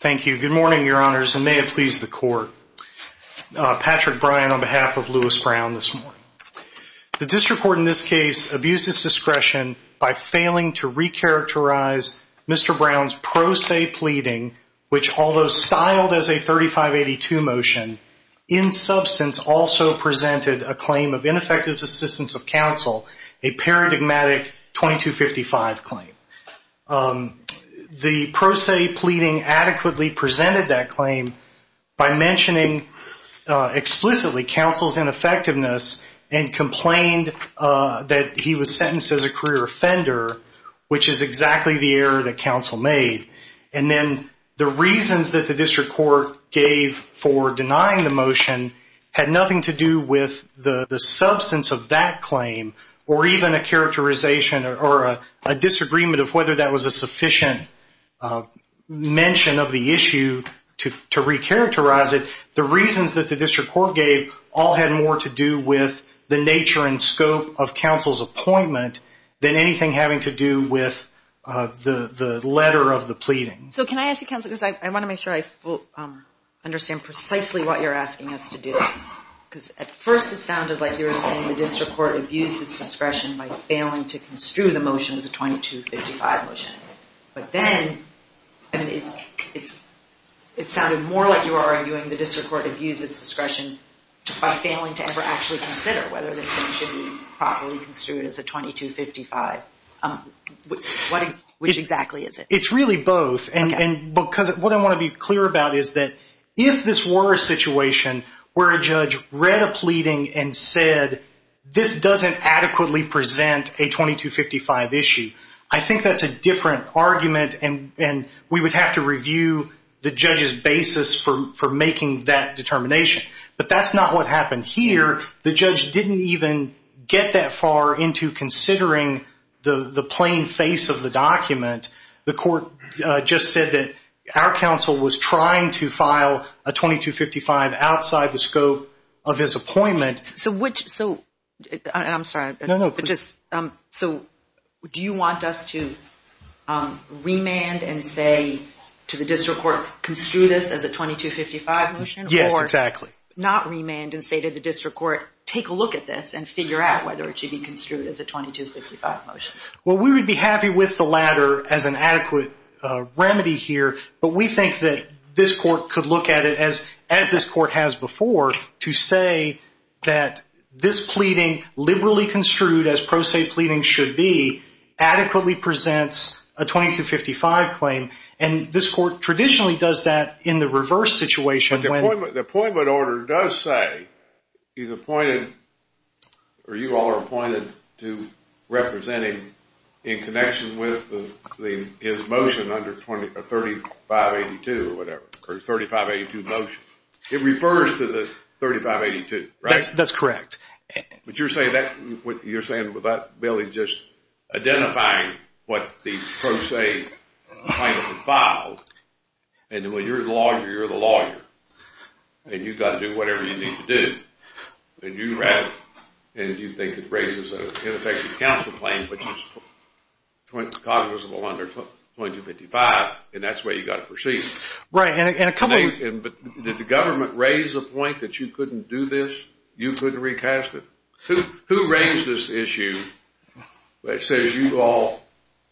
Thank you. Good morning, Your Honors, and may it please the Court. Patrick Bryan on behalf of Louis Brown this morning. The District Court in this case abused its discretion by failing to recharacterize Mr. Brown's pro se pleading, which although styled as a 3582 motion, in substance also presented a claim of ineffective assistance of counsel, a paradigmatic 2255 claim. The pro se pleading adequately presented that claim by mentioning explicitly counsel's ineffectiveness and complained that he was sentenced as a career offender, which is exactly the error that counsel made. And then the reasons that the District Court gave for denying the motion had nothing to do with the substance of that claim or even a characterization or a disagreement of whether that was a sufficient mention of the issue to recharacterize it. The reasons that the District Court gave all had more to do with the nature and scope of counsel's appointment than anything having to do with the letter of the pleading. I want to make sure I understand precisely what you're asking us to do. At first it sounded like you were saying the District Court abused its discretion by failing to construe the motion as a 2255 motion. But then it sounded more like you were arguing the District Court abused its discretion just by failing to ever actually consider whether this thing should be properly construed as a 2255. Which exactly is it? It's really both. What I want to be clear about is that if this were a situation where a judge read a pleading and said this doesn't adequately present a 2255 issue, I think that's a different argument and we would have to review the judge's basis for making that determination. But that's not what happened here. The judge didn't even get that far into considering the plain face of the document. The court just said that our counsel was trying to file a 2255 outside the scope of his appointment. Do you want us to remand and say to the District Court, construe this as a 2255 motion? Yes, exactly. Or not remand and say to the District Court, take a look at this and figure out whether it should be construed as a 2255 motion? Well, we would be happy with the latter as an adequate remedy here. But we think that this Court could look at it as this Court has before to say that this pleading, liberally construed as pro se pleading should be, adequately presents a 2255 claim. And this Court traditionally does that in the reverse situation. But the appointment order does say he's appointed, or you all are appointed to representing in connection with his motion under 3582 or whatever. Or 3582 motion. It refers to the 3582, right? That's correct. But you're saying that Bailey's just identifying what the pro se claim has been filed. And when you're the lawyer, you're the lawyer. And you've got to do whatever you need to do. And you think it raises an ineffective counsel claim, which is cognizable under 2255. And that's the way you've got to proceed. Did the government raise the point that you couldn't do this? You couldn't recast it? Who raised this issue that says you all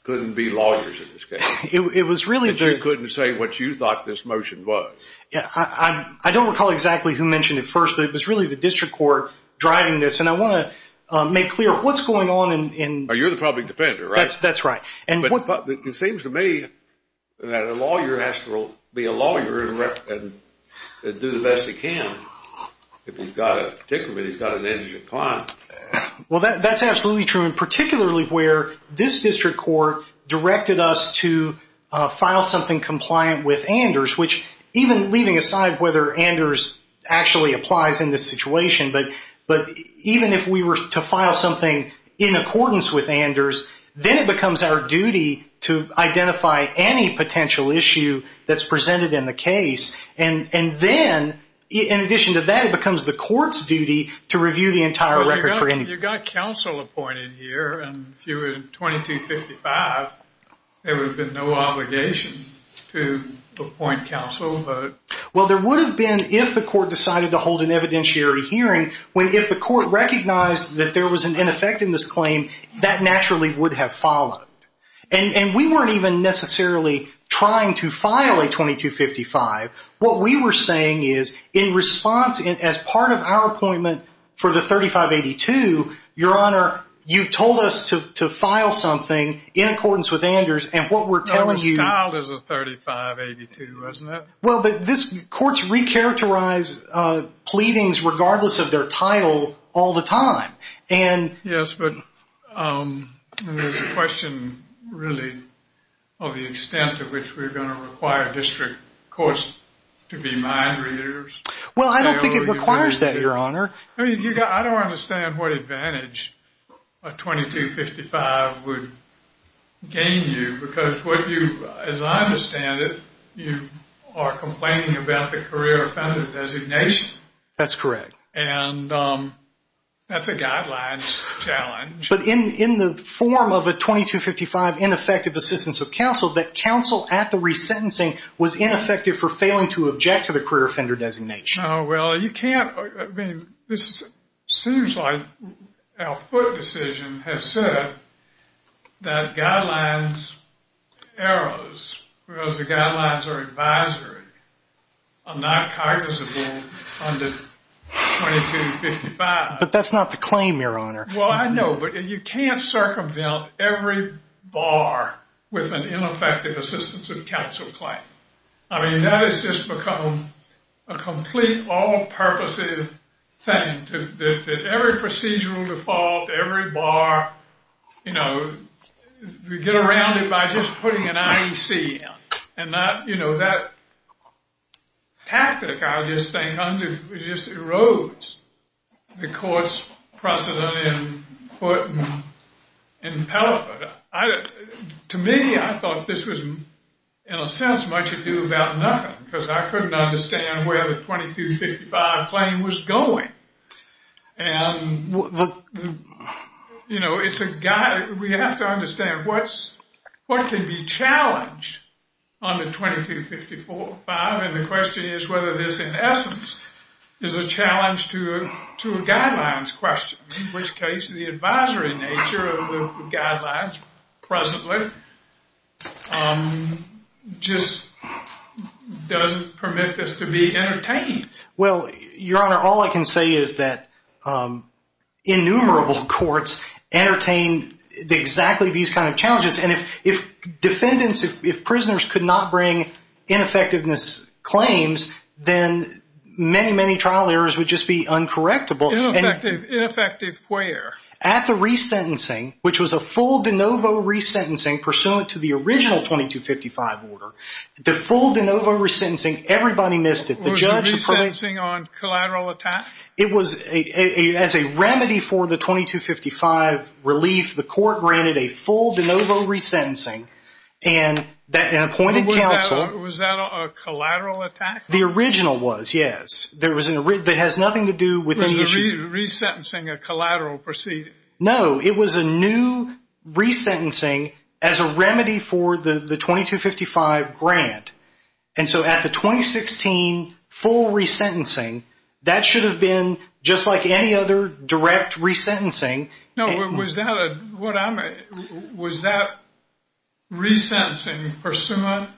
couldn't be lawyers in this case? That you couldn't say what you thought this motion was? I don't recall exactly who mentioned it first, but it was really the District Court driving this. And I want to make clear, what's going on? You're the public defender, right? That's right. It seems to me that a lawyer has to be a lawyer and do the best he can if he's got an indigent client. Well, that's absolutely true. And particularly where this District Court directed us to file something compliant with Anders, which even leaving aside whether Anders actually applies in this situation, but even if we were to file something in accordance with Anders, then it becomes our duty to identify any potential issue that's presented in the case. And then, in addition to that, it becomes the court's duty to review the entire record for any... Well, you've got counsel appointed here, and if you were in 2255, there would have been no obligation to appoint counsel. Well, there would have been if the court decided to hold an evidentiary hearing, when if the court recognized that there was an ineffectiveness claim, that naturally would have followed. And we weren't even necessarily trying to file a 2255. What we were saying is, in response, as part of our appointment for the 3582, Your Honor, you told us to file something in accordance with Anders, and what we're telling you... No, it was filed as a 3582, wasn't it? Well, but courts recharacterize pleadings regardless of their title all the time. Yes, but there's a question, really, of the extent to which we're going to require district courts to be mind readers. Well, I don't think it requires that, Your Honor. I don't understand what advantage a 2255 would gain you, because what you, as I understand it, you are complaining about the career offender designation. That's correct. And that's a guidelines challenge. But in the form of a 2255 ineffective assistance of counsel, that counsel at the resentencing was ineffective for failing to object to the career offender designation. Oh, well, you can't, I mean, this seems like our foot decision has said that guidelines arrows, whereas the guidelines are advisory, are not customizable under 2255. But that's not the claim, Your Honor. Well, I know, but you can't circumvent every bar with an ineffective assistance of counsel claim. I mean, that has just become a complete all-purposes thing. Every procedural default, every bar, you know, we get around it by just putting an IEC in. And that, you know, that tactic, I just think, just erodes the court's precedent in Pelliford. To me, I thought this was, in a sense, much ado about nothing, because I couldn't understand where the 2255 claim was going. You know, it's a guy, we have to understand what's what can be challenged under 2255, and the question is whether this, in essence, is a challenge to a guidelines question, in which case the advisory nature of the guidelines presently just doesn't permit this to be entertained. Well, Your Honor, all I can say is that innumerable courts entertain exactly these kind of challenges, and if defendants, if prisoners could not bring ineffectiveness claims, then many, many trial errors would just be uncorrectable. Ineffective where? At the resentencing, which was a full de novo resentencing pursuant to the original 2255 order. The full de novo resentencing, everybody missed it. Was the resentencing on collateral attack? It was as a remedy for the 2255 relief. The court granted a full de novo resentencing, and an appointed counsel... Was that a collateral attack? The original was, yes. There was nothing to do with... Was the resentencing a collateral proceeding? No, it was a new resentencing as a remedy for the 2255 grant, and so at the 2016 full resentencing, that should have been just like any other direct resentencing. Was that resentencing pursuant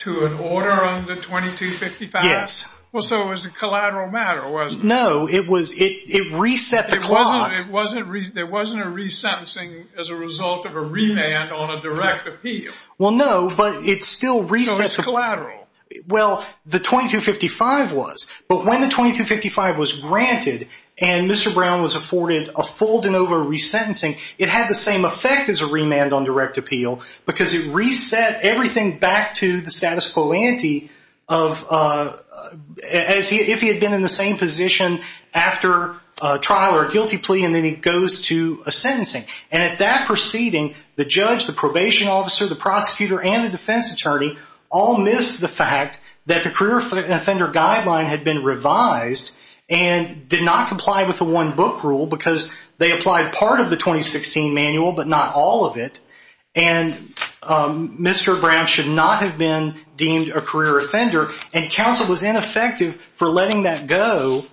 to an order on the 2255? Yes. So it was a collateral matter, wasn't it? No, it reset the clock. There wasn't a resentencing as a result of a revand on a direct appeal? Well, no, but it still... So it's collateral. Well, the 2255 was, but when the 2255 was granted, and Mr. Brown was afforded a full de novo resentencing, it had the same effect as a remand on direct appeal because it reset everything back to the status quo ante of... If he had been in the same position after a trial or a guilty plea, and then he goes to a sentencing, and at that proceeding, the judge, the probation officer, the prosecutor, and the defense attorney all missed the fact that the career offender guideline had been revised and did not comply with the one book rule because they applied part of the 2016 manual but not all of it, and Mr. Brown should not have been deemed a career offender, and counsel was ineffective for letting that go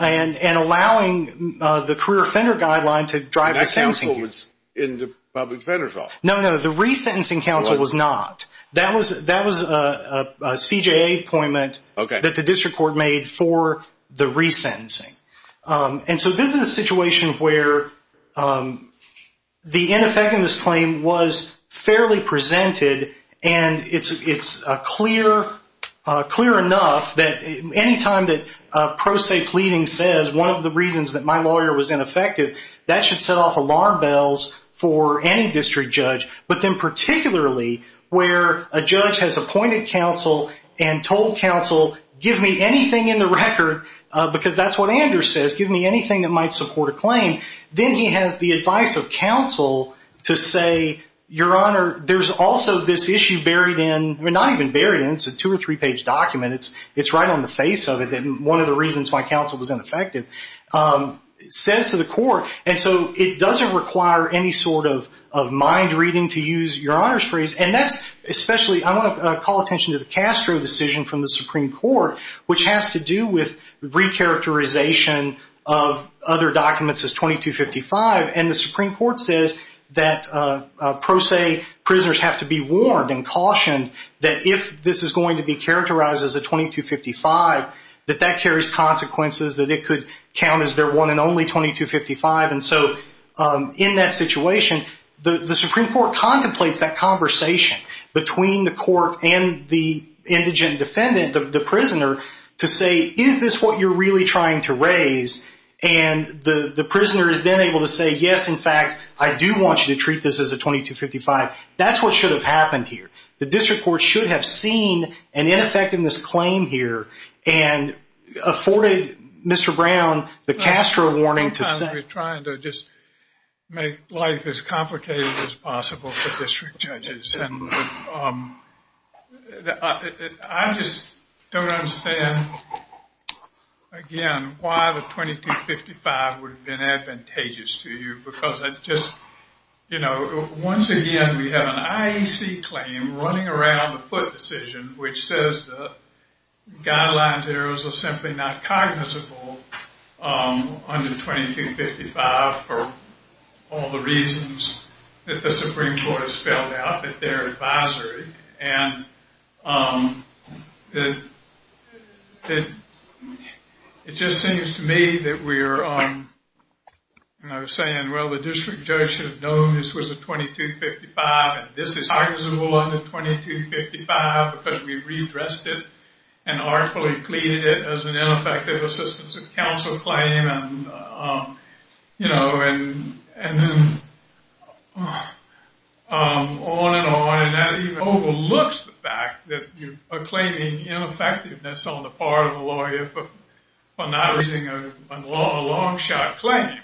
and allowing the career offender guideline to drive the sentencing. That counsel was in the public defender's office? No, no, the resentencing counsel was not. That was a CJA appointment that the district court made for the resentencing, and so this is a situation where the ineffectiveness claim was fairly presented, and it's clear enough that any time that pro se pleading says one of the reasons that my lawyer was ineffective, that should set off alarm bells for any district judge, but then particularly where a judge has appointed counsel and told counsel give me anything in the record, because that's what Anders says, give me anything that might support a claim, then he has the advice of counsel to say, your honor, there's also this issue buried in, not even buried in, it's a two or three page document, it's right on the face of it, one of the reasons why counsel was ineffective, says to the court, and so it doesn't require any sort of mind reading to use your honors phrase, and that's especially, I want to call attention to the Castro decision from the Supreme Court, which has to do with recharacterization of other documents as 2255, and the Supreme Court says that pro se prisoners have to be warned and cautioned that if this is going to be characterized as a 2255, that that carries consequences that it could count as their one and only 2255, and so in that situation, the Supreme Court contemplates that conversation between the court and the indigent defendant, the prisoner, to say, is this what you're really trying to raise, and the prisoner is then able to say, yes, in fact, I do want you to treat this as a 2255, that's what should have happened here. The district court should have seen an ineffectiveness claim here and afforded Mr. Brown the Castro warning to say. We're trying to just make life as complicated as possible for district judges, and I just don't understand again, why the 2255 would have been advantageous to you, because I just, you know, once again, we have an IEC claim running around the foot decision, which says the guidelines errors are simply not cognizable under 2255 for all the reasons that the Supreme Court has spelled out at their advisory, and it just seems to me that we're saying, well, the district judge should have known this was a 2255, and this is arguable under 2255, because we've redressed it and artfully completed it as an ineffective assistance of counsel claim, you know, and then on and on, and that even overlooks the fact that you are claiming ineffectiveness on the part of a lawyer for not raising a long shot claim.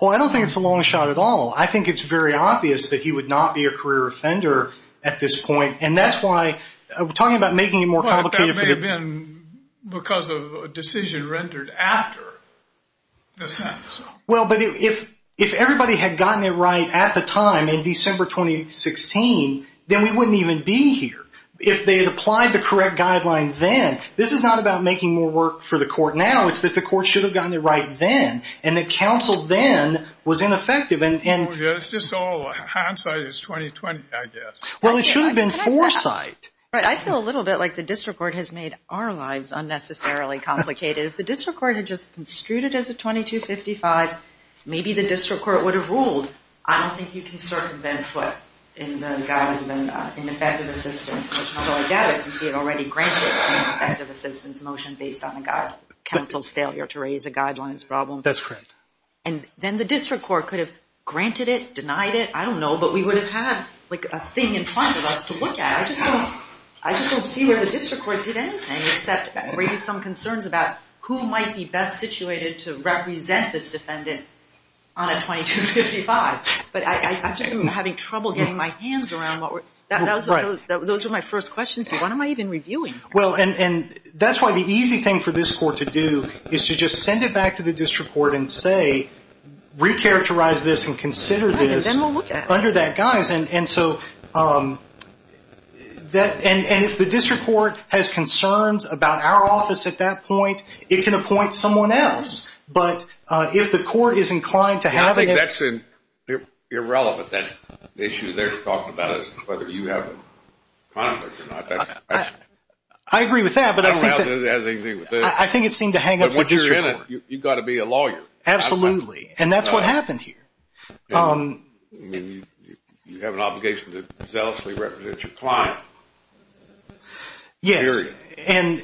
Well, I don't think it's a long shot at all. I think it's very obvious that he would not be a career offender at this point, and that's why, we're talking about making it more complicated. But that may have been because of a decision rendered after the sentence. Well, but if everybody had gotten it right at the time, in December 2016, then we wouldn't even be here. If they had applied the correct guidelines then, this is not about making more work for the court now, it's that the court should have gotten it right then, and that counsel then was ineffective. It's just all hindsight, it's 2020, I guess. Well, it should have been foresight. Right, I feel a little bit like the district court has made our lives unnecessarily complicated. If the district court had just construed it as a 2255, maybe the district court would have ruled, I don't think you can circumvent what in the guidelines of an ineffective assistance, which not only doubt it, since we had already granted an ineffective assistance motion based on the counsel's failure to raise a guidelines problem. That's correct. And then the district court could have granted it, denied it, I don't know, but we would have had a thing in front of us to look at. I just don't see where the district court did anything except raise some concerns about who might be best situated to represent this defendant on a 2255. But I'm just having trouble getting my hands around what were those are my first questions, why am I even reviewing? That's why the easy thing for this court to do is to just send it back to the district court and say, recharacterize this and consider this under that guise. And if the district court has concerns about our office at that point, it can appoint someone else. But if the court is inclined to have it... I think that's irrelevant, that issue they're talking about is whether you have a conflict or not. I agree with that, but I think it seemed to hang up the district court. You've got to be a lawyer. Absolutely. And that's what happened here. You have an obligation to zealously represent your client. Yes. And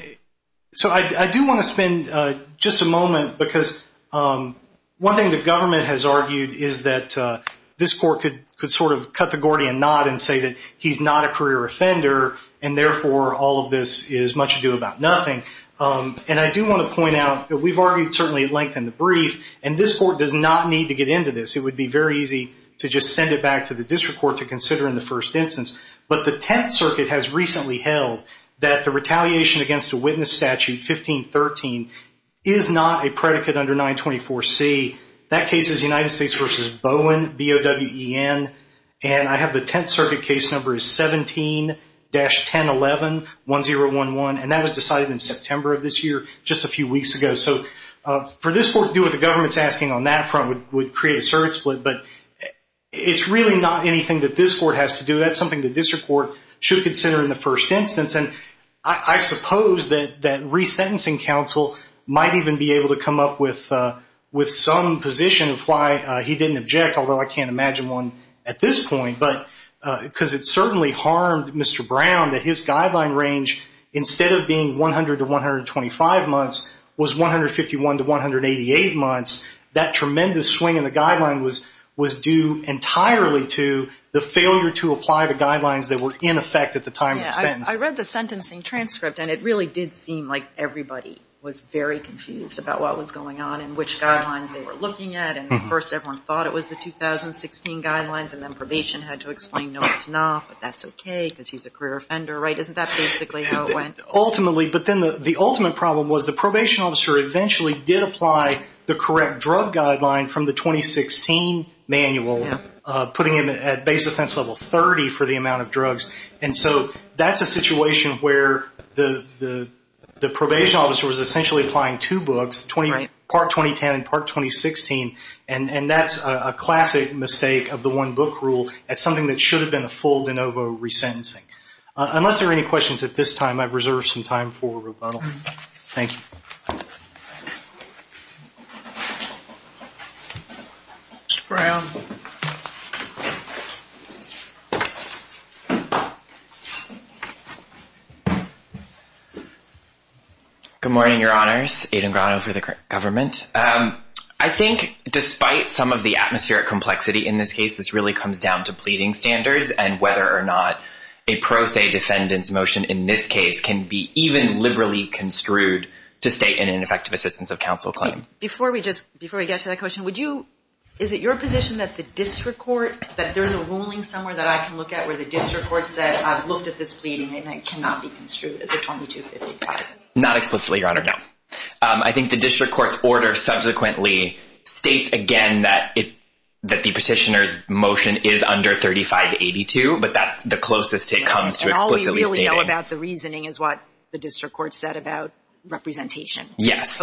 so I do want to spend just a moment because one thing the government has argued is that this court could sort of cut the Gordian knot and say that he's not a career offender and therefore all of this is much ado about nothing. And I do want to point out that we've argued certainly at length in the brief and this court does not need to get into this. It would be very easy to just send it back to the district court to consider in the first instance. But the Tenth Circuit has recently held that the retaliation against a witness statute, 1513, is not a predicate under 924C. That case is United States v. Bowen, B-O-W-E-N, and I have the Tenth Circuit case number as 17-1011 and that was decided in September of this year, just a few weeks ago. So for this court to do what the government's asking on that front would create a service split, but it's really not anything that this court has to do. That's something the district court should consider in the first instance. And I suppose that resentencing counsel might even be able to come up with some position of why he didn't object, although I can't imagine one at this point. Because it certainly harmed Mr. Brown that his guideline range, instead of being 100 to 125 months, was 151 to 188 months. That tremendous swing in the guideline was due entirely to the failure to apply the guidelines that were in effect at the time of the sentence. I read the sentencing transcript and it really did seem like everybody was very confused about what was going on and which guidelines they were looking at and at first everyone thought it was the 2016 guidelines and then probation had to explain no it's not, but that's okay because he's a career offender, right? Isn't that basically how it went? Ultimately, but then the ultimate problem was the probation officer eventually did apply the correct drug guideline from the 2016 manual, putting him at base offense level 30 for the amount of drugs. And so that's a situation where the probation officer was essentially applying two books, part 2010 and part 2016, and that's a classic mistake of the one book rule. That's something that should have been a full de novo resentencing. Unless there are any questions at this time, I've reserved some time for rebuttal. Thank you. Mr. Brown. Good morning, Your Honors. Aiden Brown for the government. I think despite some of the atmospheric complexity in this case, this really comes down to pleading standards and whether or not a pro se defendant's motion in this case can be even liberally construed to state in an effective assistance of counsel claim. Before we get to that question, is it your position that the district court, that there's a ruling somewhere that I can look at where the district court said I've looked at this pleading and it cannot be construed as a 2255? Not explicitly, Your Honor, no. I think the district court's order subsequently states again that the petitioner's 3582, but that's the closest it comes to explicitly stating. And all we really know about the reasoning is what the district court said about representation. Yes.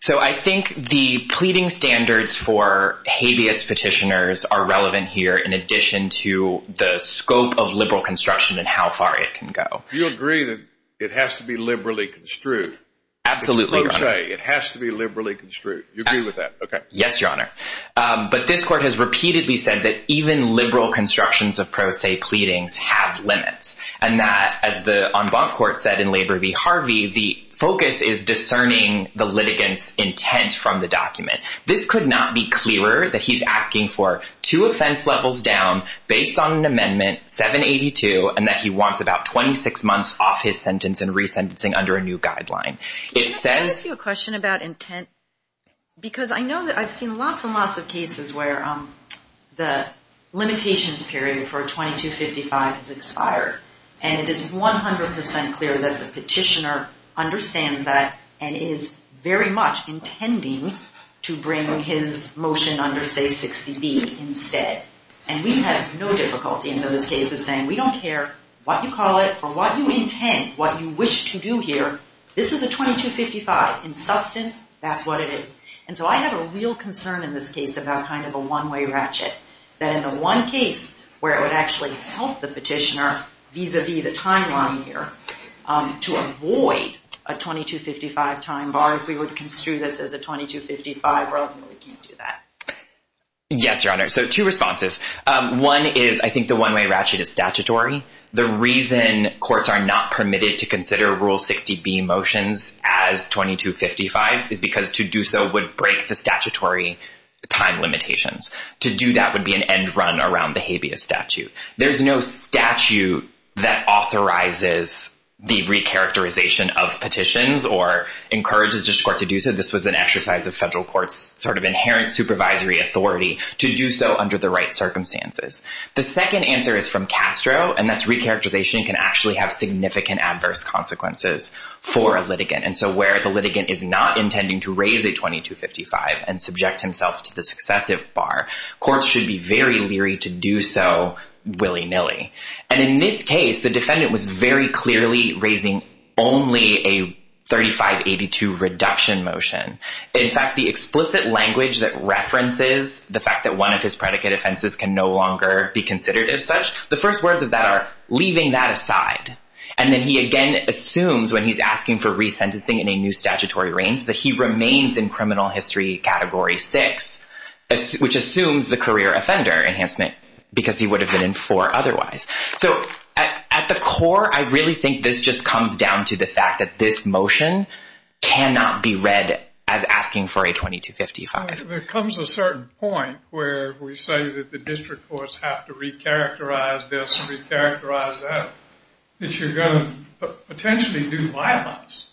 So I think the pleading standards for habeas petitioners are relevant here in addition to the scope of liberal construction and how far it can go. You agree that it has to be liberally construed? Absolutely, Your Honor. Pro se, it has to be liberally construed. You agree with that? Yes, Your Honor. But this court has stated that liberal constructions of pro se pleadings have limits. And that, as the en banc court said in Labor v. Harvey, the focus is discerning the litigant's intent from the document. This could not be clearer that he's asking for two offense levels down based on an amendment, 782, and that he wants about 26 months off his sentence and resentencing under a new guideline. Can I ask you a question about intent? Because I know that I've seen lots and lots of presentations period for a 2255 has expired. And it is 100% clear that the petitioner understands that and is very much intending to bring his motion under, say, 60B instead. And we have no difficulty in those cases saying, we don't care what you call it or what you intend, what you wish to do here. This is a 2255. In substance, that's what it is. And so I have a real concern in this case about kind of a one-way ratchet, that in the one case where it would actually help the petitioner vis-a-vis the timeline here to avoid a 2255 time bar, if we would construe this as a 2255 rule, we can't do that. Yes, Your Honor. So two responses. One is, I think the one-way ratchet is statutory. The reason courts are not permitted to consider Rule 60B motions statutory time limitations. To do that would be an end run around the habeas statute. There's no statute that authorizes the recharacterization of petitions or encourages the court to do so. This was an exercise of federal court's sort of inherent supervisory authority to do so under the right circumstances. The second answer is from Castro, and that's recharacterization can actually have significant adverse consequences for a litigant. And so where the litigant is not intending to subject himself to the successive bar, courts should be very leery to do so willy-nilly. And in this case, the defendant was very clearly raising only a 3582 reduction motion. In fact, the explicit language that references the fact that one of his predicate offenses can no longer be considered as such, the first words of that are, leaving that aside. And then he again assumes when he's asking for resentencing in a new statutory range that he has to leave six, which assumes the career offender enhancement because he would have been in four otherwise. So at the core, I really think this just comes down to the fact that this motion cannot be read as asking for a 2255. There comes a certain point where we say that the district courts have to recharacterize this, recharacterize that, that you're going to potentially do violence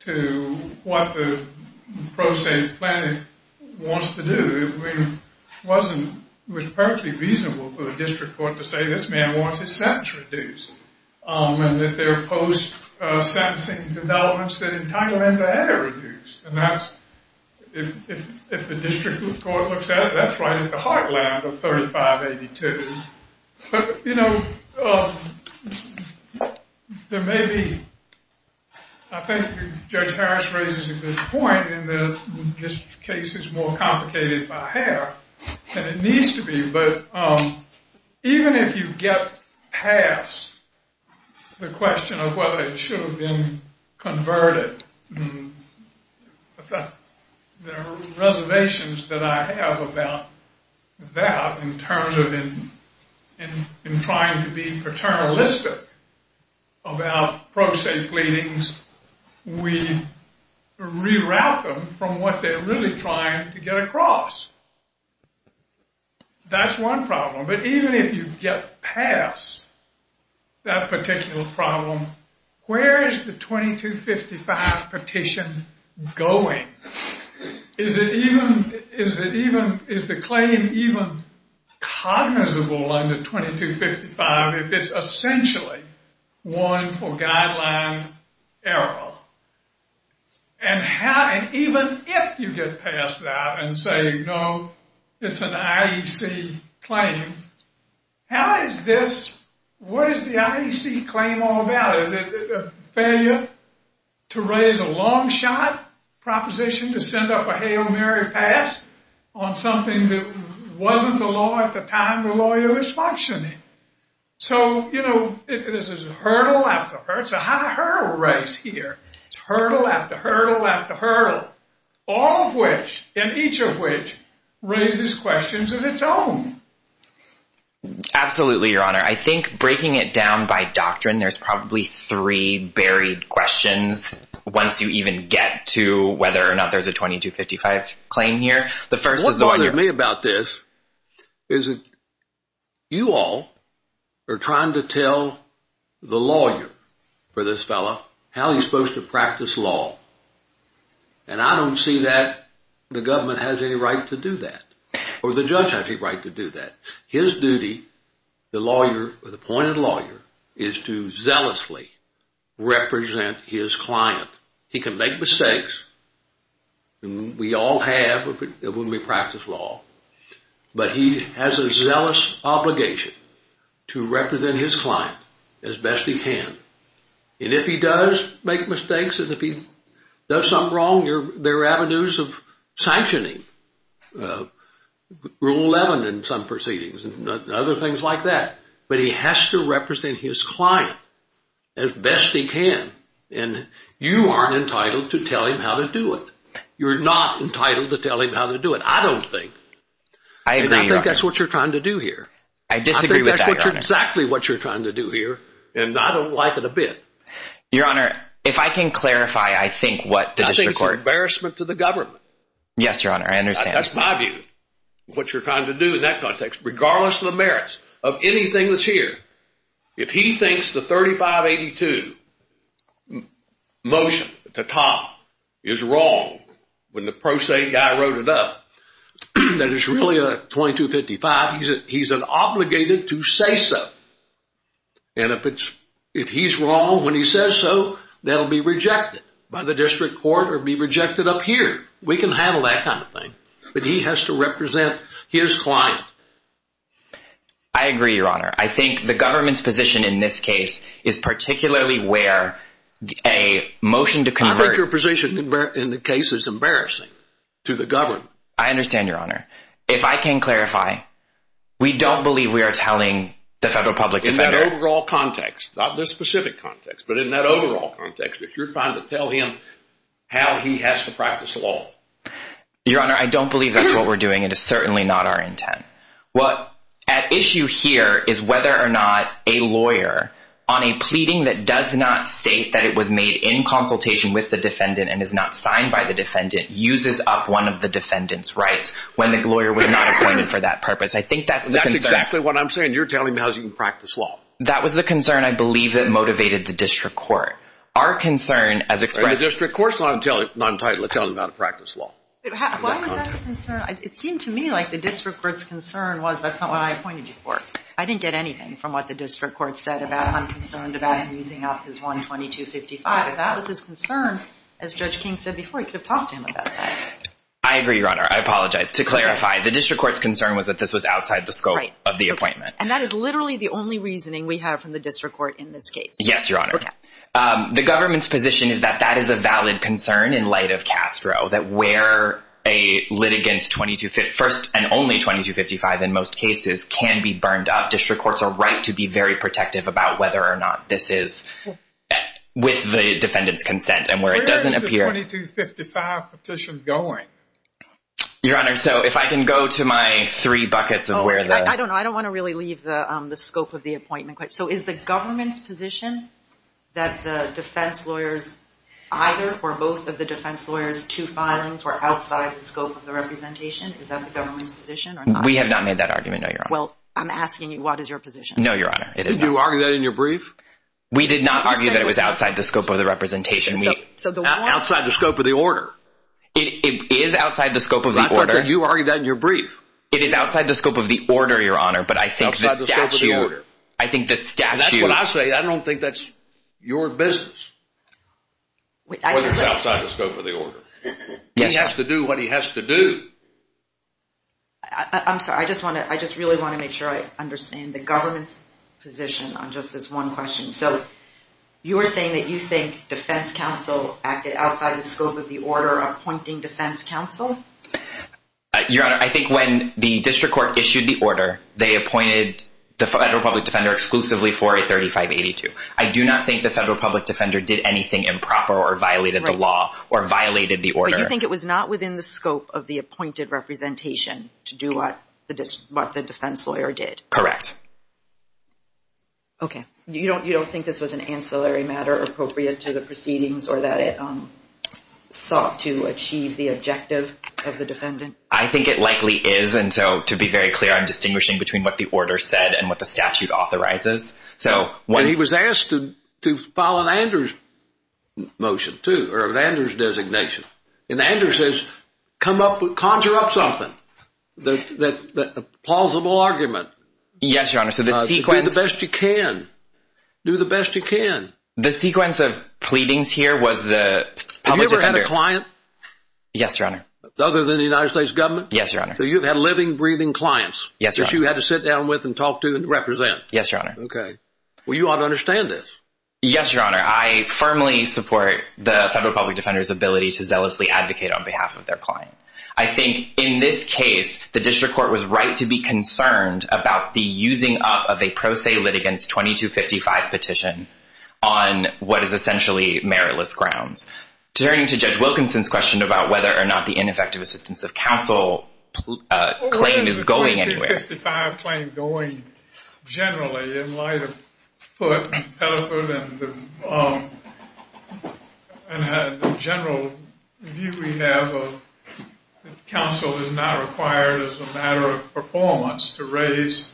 to what the plaintiff wants to do. It was perfectly reasonable for the district court to say this man wants his sentence reduced. And that there are post-sentencing developments that entitle him to add or reduce. And that's, if the district court looks at it, that's right at the heartland of 3582. But, you know, there may be, I think Judge Harris raises a good point in that this case is more complicated by half than it needs to be. But even if you get past the question of whether it should have been converted, there are reservations that I have about that in terms of in trying to be paternalistic about pro se pleadings. We reroute them from what they're really trying to get across. That's one problem. But even if you get past that particular problem, where is the 2255 petition going? Is it even is the claim even cognizable under 2255 if it's essentially one for guideline error? And even if you get past that and say no, it's an IEC claim, how is this, what is the IEC claim all about? Is it a failure to raise a long shot proposition to send up a Hail Mary pass on something that wasn't the law at the time the lawyer was functioning? So, you know, this is hurdle after hurdle. It's a high hurdle race here. It's hurdle after hurdle after hurdle. All of which, and each of which, raises questions of its own. Absolutely, Your Honor. I think breaking it down by doctrine, there's probably three buried questions once you even get to whether or not there's a 2255 claim here. The first is the one you- What bothers me about this is that you all are trying to tell the lawyer for this fellow how he's supposed to practice law. And I don't see that the government has any right to do that. Or the judge has any right to do that. His duty, the lawyer, the appointed lawyer, is to zealously represent his client. He can make mistakes. We all have when we practice law. But he has a zealous obligation to represent his client as best he can. And if he does make mistakes, and if he does something wrong, there are avenues of sanctioning. Rule 11 in some proceedings and other things like that. But he has to represent his client as best he can. And you aren't entitled to tell him how to do it. You're not entitled to tell him how to do it. And I think that's what you're trying to do here. I disagree with that, Your Honor. I think that's exactly what you're trying to do here. And I don't like it a bit. Your Honor, if I can clarify, I think what the district court- I think it's an embarrassment to the government. Yes, Your Honor, I understand. That's my view, what you're trying to do in that context, regardless of the merits of anything that's here. If he thinks the 3582 motion at the top is wrong when the pro se guy wrote it up, that it's really a 2255, he's obligated to say so. And if he's wrong when he says so, that'll be rejected by the district court or be rejected up here. We can handle that kind of thing. But he has to represent his client. I agree, Your Honor. I think the government's position in this case is particularly where a motion to convert- I think your position in the case is embarrassing to the government. I understand, Your Honor. If I can clarify, we don't believe we are telling the federal public defender- In the overall context, not the specific context, but in that overall context, that you're trying to tell him how he has to practice law. Your Honor, I don't believe that's what we're doing. It is certainly not our intent. What at issue here is whether or not a lawyer, on a pleading that does not state that it was made in consultation with the defendant and is not signed by the defendant, uses up one of the defendant's rights when the lawyer was not appointed for that purpose. I think that's the concern. That's exactly what I'm saying. You're telling me how he can practice law. That was the concern, I believe, that motivated the district court. Our concern as expressed- The district court's not entitled to tell him how to practice law. Why was that a concern? It seemed to me like the district court's concern was that's not what I appointed you for. I didn't get anything from what the district court said about I'm concerned about him using up his one 2255. If that was his concern, as Judge King said before, he could have talked to him about that. I agree, Your Honor. I apologize. To clarify, the district court's concern was that this was outside the scope of the appointment. And that is literally the only reasoning we have from the district court in this case. Yes, Your Honor. The government's position is that that is a valid concern in light of Castro, that where a litigant's first and only 2255 in most cases can be burned up. District courts are right to be very protective about whether or not this is with the defendant's consent. And where it doesn't appear- Where is the 2255 petition going? Your Honor, so if I can go to my three buckets of where the- I don't know. I don't want to really leave the scope of the appointment. So is the government's position that the defense lawyers, either or both of the defense lawyers, two filings were outside the scope of the representation? Is that the government's position? We have not made that argument, no, Your Honor. I'm asking you, what is your position? No, Your Honor. Did you argue that in your brief? We did not argue that it was outside the scope of the representation. Outside the scope of the order? It is outside the scope of the order. But I thought that you argued that in your brief. It is outside the scope of the order, Your Honor, but I think the statute- Outside the scope of the order. That's what I say. I don't think that's your business. Whether it's outside the scope of the order. He has to do what he has to do. I'm sorry. I just really want to make sure I understand the government's position on just this one question. So you were saying that you think defense counsel acted outside the scope of the order appointing defense counsel? Your Honor, I think when the district court issued the order, they appointed the federal public defender exclusively for a 3582. I do not think the federal public defender did anything improper or violated the law or violated the order. But you think it was not within the scope of the appointed representation to do what the defense lawyer did? Correct. Okay. You don't think this was an ancillary matter appropriate to the proceedings or that it sought to achieve the objective of the defendant? I think it likely is and so to be very clear, I'm distinguishing between what the order said and what the statute authorizes. And he was asked to file an Anders motion too or an Anders designation. And Anders says conjure up something. A plausible argument. Yes, Your Honor. Do the best you can. Do the best you can. The sequence of pleadings here was the public defender. Have you ever had a client? Yes, Your Honor. Other than the United States government? Yes, Your Honor. So you've had living, breathing clients. Yes, Your Honor. That you had to sit down with and talk to and represent? Yes, Your Honor. Okay. Well, you ought to understand this. Yes, Your Honor. I firmly support the federal public defender's ability to zealously advocate on behalf of their client. I think in this case, the district court was right to be concerned about the using up of a pro se litigants 2255 petition on what is essentially meritless grounds. Turning to Judge Wilkinson's question about whether or not the ineffective assistance of counsel claim is going anywhere. Generally, in light of foot and the general view we have of counsel is not required as a matter of performance to raise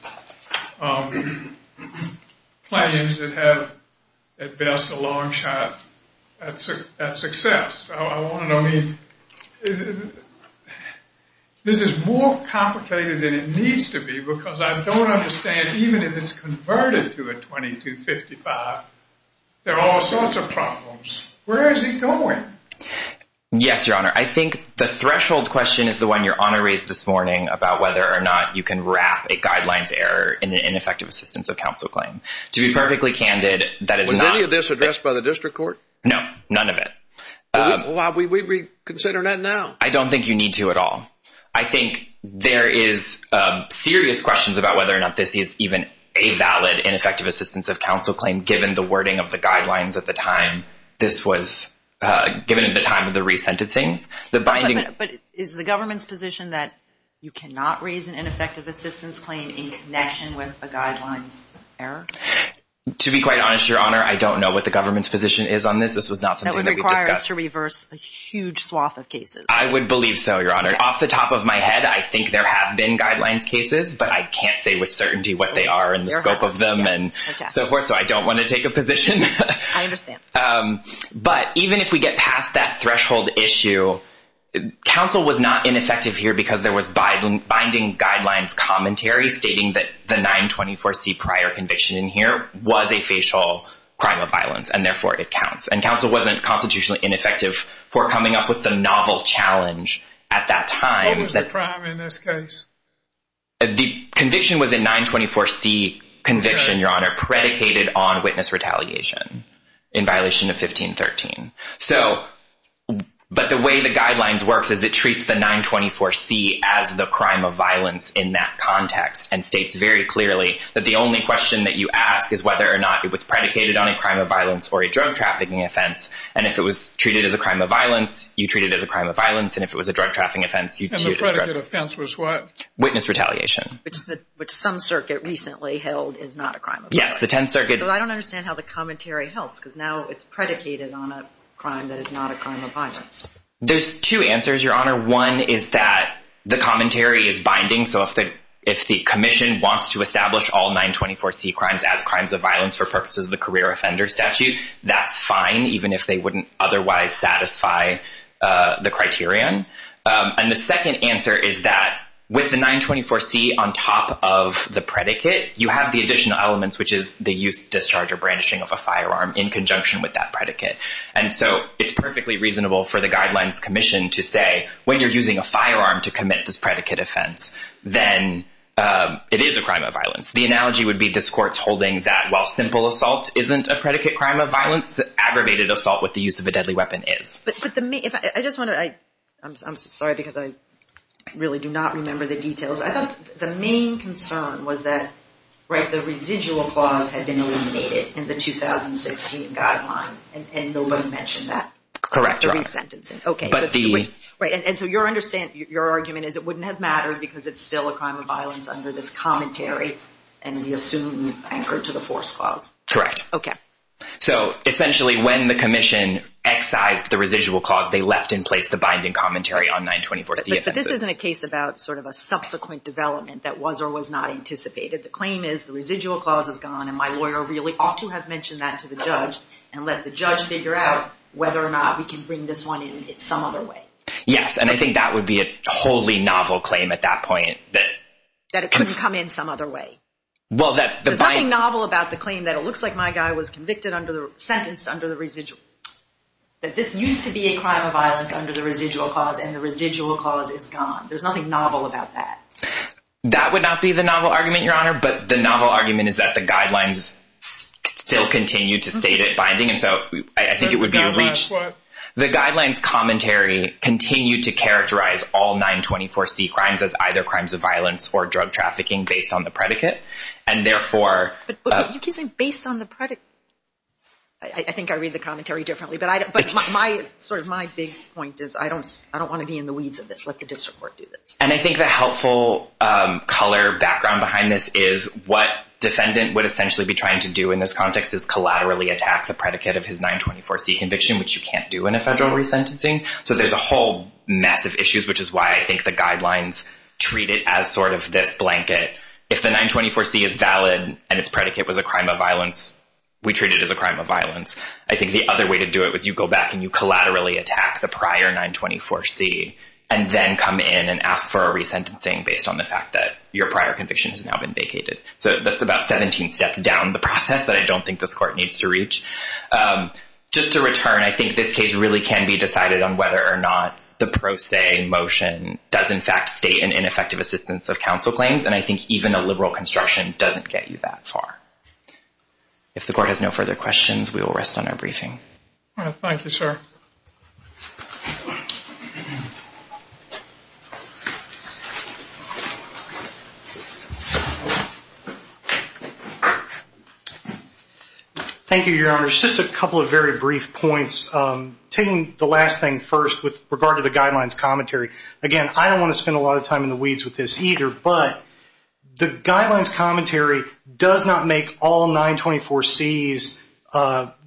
claims that have at best a long shot at success. I want to know this is more complicated than it needs to be because I don't understand even if it's converted to a 2255, there are all sorts of problems. Where is he going? Yes, Your Honor. I think the threshold question is the one Your Honor raised this morning about whether or not you can wrap a guidelines error in an ineffective assistance of counsel claim. To be perfectly candid, that is not... Was any of this addressed by the district court? No, none of it. Well, we reconsider that now. I don't think you need to at all. I think there is serious questions about whether or not this is even a valid ineffective assistance of counsel claim given the wording of the guidelines at the time this was given at the time of the recent of things. But is the government's position that you cannot raise an ineffective assistance claim in connection with a guidelines error? To be quite honest, Your Honor, I don't know what the government's opinion is on this. That would require us to reverse a huge swath of cases. I would believe so, Your Honor. Off the top of my head, I think there have been guidelines cases, but I can't say with certainty what they are and the scope of them and so forth, so I don't want to take a position. I understand. But even if we get past that threshold issue, counsel was not ineffective here because there was binding guidelines commentary stating that the 924C prior conviction in here was a facial crime of violence and therefore it counts. And counsel wasn't constitutionally ineffective for coming up with the novel challenge at that time. What was the crime in this case? The conviction was a 924C conviction, Your Honor, predicated on witness retaliation in violation of 1513. So, but the way the guidelines works is it treats the 924C as the crime of violence in that context and states very clearly that the only question that you ask is whether or not it was predicated on a crime of violence or a drug trafficking offense, and if it was treated as a crime of violence, you treat it as a crime of violence, and if it was a drug trafficking offense, you treat it as drug trafficking. And the predicated offense was what? Witness retaliation. Which some circuit recently held is not a crime of violence. Yes, the 10th Circuit. So I don't understand how the commentary helps because now it's predicated on a crime that is not a crime of violence. There's two answers, Your Honor. One is that the commentary is binding, so if the commission wants to establish all 924C crimes as crimes of violence for purposes of the career offender statute, that's fine, even if they wouldn't otherwise satisfy the criterion. And the second answer is that with the 924C on top of the predicate, you have the additional elements, which is the use, discharge, or brandishing of a firearm in conjunction with that predicate. And so it's perfectly reasonable for the Guidelines Commission to say, when you're using a firearm to commit this predicate offense, then it is a crime of violence. The analogy would be this Court's holding that while simple assault isn't a predicate crime of violence, aggravated assault with the use of a deadly weapon is. I'm sorry because I really do not remember the details. The main concern was that the residual clause had been eliminated in the 2016 Guideline, and nobody mentioned that. Correct, Your Honor. Because it's still a crime of violence under this commentary, and we assume anchored to the force clause. Correct. Okay. So essentially when the commission excised the residual clause, they left in place the binding commentary on 924C offenses. But this isn't a case about sort of a subsequent development that was or was not anticipated. The claim is the residual clause is gone, and my lawyer really ought to have mentioned that to the judge, and let the judge figure out whether or not we can bring this one in some other way. Yes, and I think that would be a wholly novel claim at that point. That it couldn't come in some other way. There's nothing novel about the claim that it looks like my guy was sentenced under the residual. That this used to be a crime of violence under the residual clause, and the residual clause is gone. There's nothing novel about that. That would not be the novel argument, Your Honor, but the novel argument is that the Guidelines still continue to state it binding, and so I think it would be a reach. The Guidelines commentary continue to characterize all 924C crimes as either crimes of violence or drug trafficking based on the predicate, and therefore But you keep saying based on the predicate. I think I read the commentary differently, but sort of my big point is I don't want to be in the weeds of this. Let the district court do this. And I think the helpful color background behind this is what defendant would essentially be trying to do in this context is collaterally attack the predicate of his 924C conviction, which you There's a whole mess of issues, which is why I think the Guidelines treat it as sort of this blanket. If the 924C is valid and its predicate was a crime of violence, we treat it as a crime of violence. I think the other way to do it was you go back and you collaterally attack the prior 924C and then come in and ask for a resentencing based on the fact that your prior conviction has now been vacated. So that's about 17 steps down the process that I don't think this court needs to reach. Just to return, I think this case really can be decided on whether or not the pro se motion does in fact state an ineffective assistance of counsel claims. And I think even a liberal construction doesn't get you that far. If the court has no further questions, we will rest on our briefing. Thank you, sir. Thank you, Your Honor. There's just a couple of very brief points. Taking the last thing first with regard to the Guidelines commentary. Again, I don't want to spend a lot of time in the weeds with this either, but the Guidelines commentary does not make all 924Cs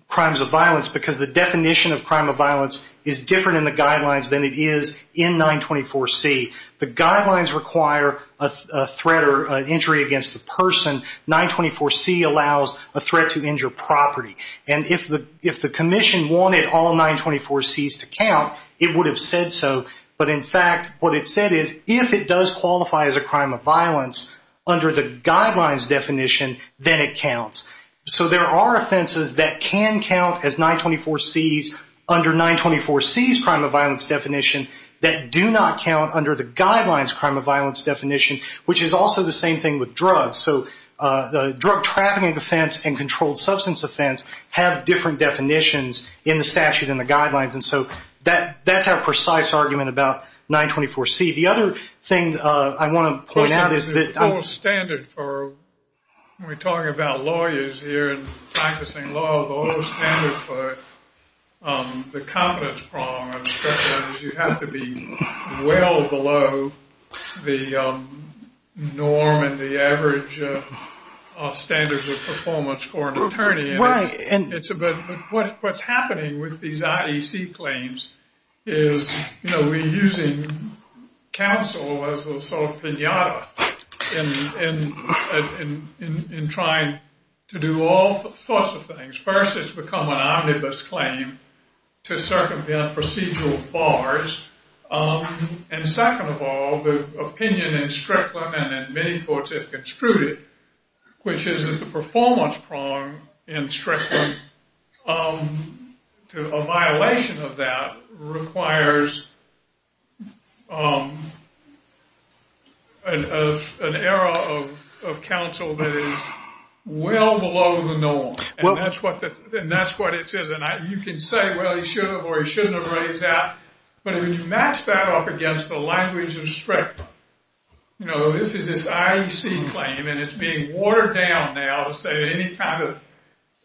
crimes of violence, because the definition of crime of violence is different in the Guidelines than it is in 924C. The Guidelines require a threat or an injury against the person. 924C allows a threat to injure property. And if the Commission wanted all 924Cs to count, it would have said so. But in fact, what it said is if it does qualify as a crime of violence under the Guidelines definition, then it counts. So there are offenses that can count as 924Cs under 924C's crime of violence definition that do not count under the Guidelines crime of violence definition, which is also the same thing with drugs. So the drug trafficking offense and controlled substance offense have different definitions in the statute and the Guidelines. That's our precise argument about 924C. The other thing I want to point out is that... When we're talking about lawyers here and practicing law, those standards for the competence problem are especially, you have to be well below the norm and the average standards of performance for an attorney. What's happening with these IEC claims is we're using counsel as a sort of pinata in trying to do all sorts of things. First, it's become an omnibus claim to circumvent procedural bars. And second of all, the opinion in Strickland and in many courts, if construed, which is that the performance problem in Strickland, a violation of that requires an error of counsel that is well below the norm. And that's what it says. And you can say, well, he should have or he shouldn't have raised that. But when you match that up against the language of Strickland, this is this IEC claim and it's being watered down now to say that any kind of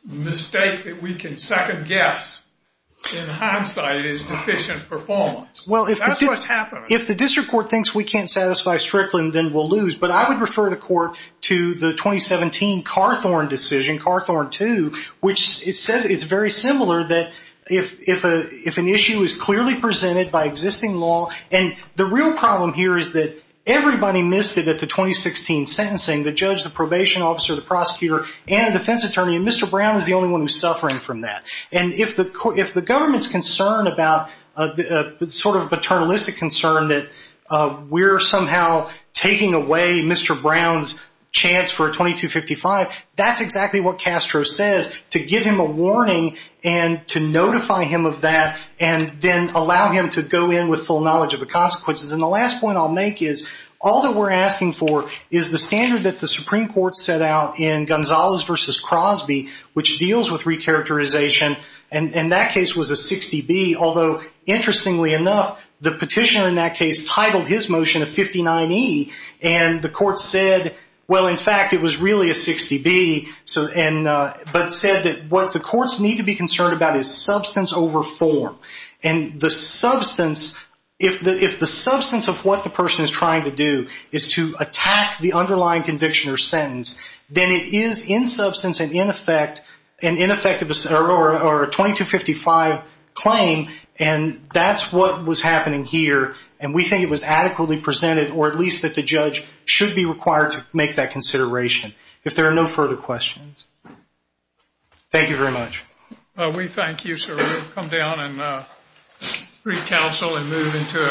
mistake that we can second guess, in hindsight, is deficient performance. That's what's happening. If the district court thinks we can't satisfy Strickland, then we'll refer the court to the 2017 Carthorne decision, Carthorne 2, which it says it's very similar that if an issue is clearly presented by existing law. And the real problem here is that everybody missed it at the 2016 sentencing, the judge, the probation officer, the prosecutor, and the defense attorney. And Mr. Brown is the only one who's suffering from that. And if the government's concerned about sort of a paternalistic concern that we're somehow taking away Mr. Brown's chance for a 2255, that's exactly what Castro says, to give him a warning and to notify him of that and then allow him to go in with full knowledge of the consequences. And the last point I'll make is, all that we're asking for is the standard that the Supreme Court set out in Gonzalez v. Crosby, which deals with recharacterization, and that case was a 60B, although, interestingly enough, the petitioner in that case titled his motion a 59E, and the court said well, in fact, it was really a 60B, but said that what the courts need to be concerned about is substance over form. And the substance, if the substance of what the person is trying to do is to attack the underlying conviction or sentence, then it is in substance and in effect a 2255 claim, and that's what was happening here, and we think it was adequately presented, or at least that the judge should be required to make that consideration, if there are no further questions. Thank you very much. We thank you, sir. We'll come down and recounsel and move into our final case.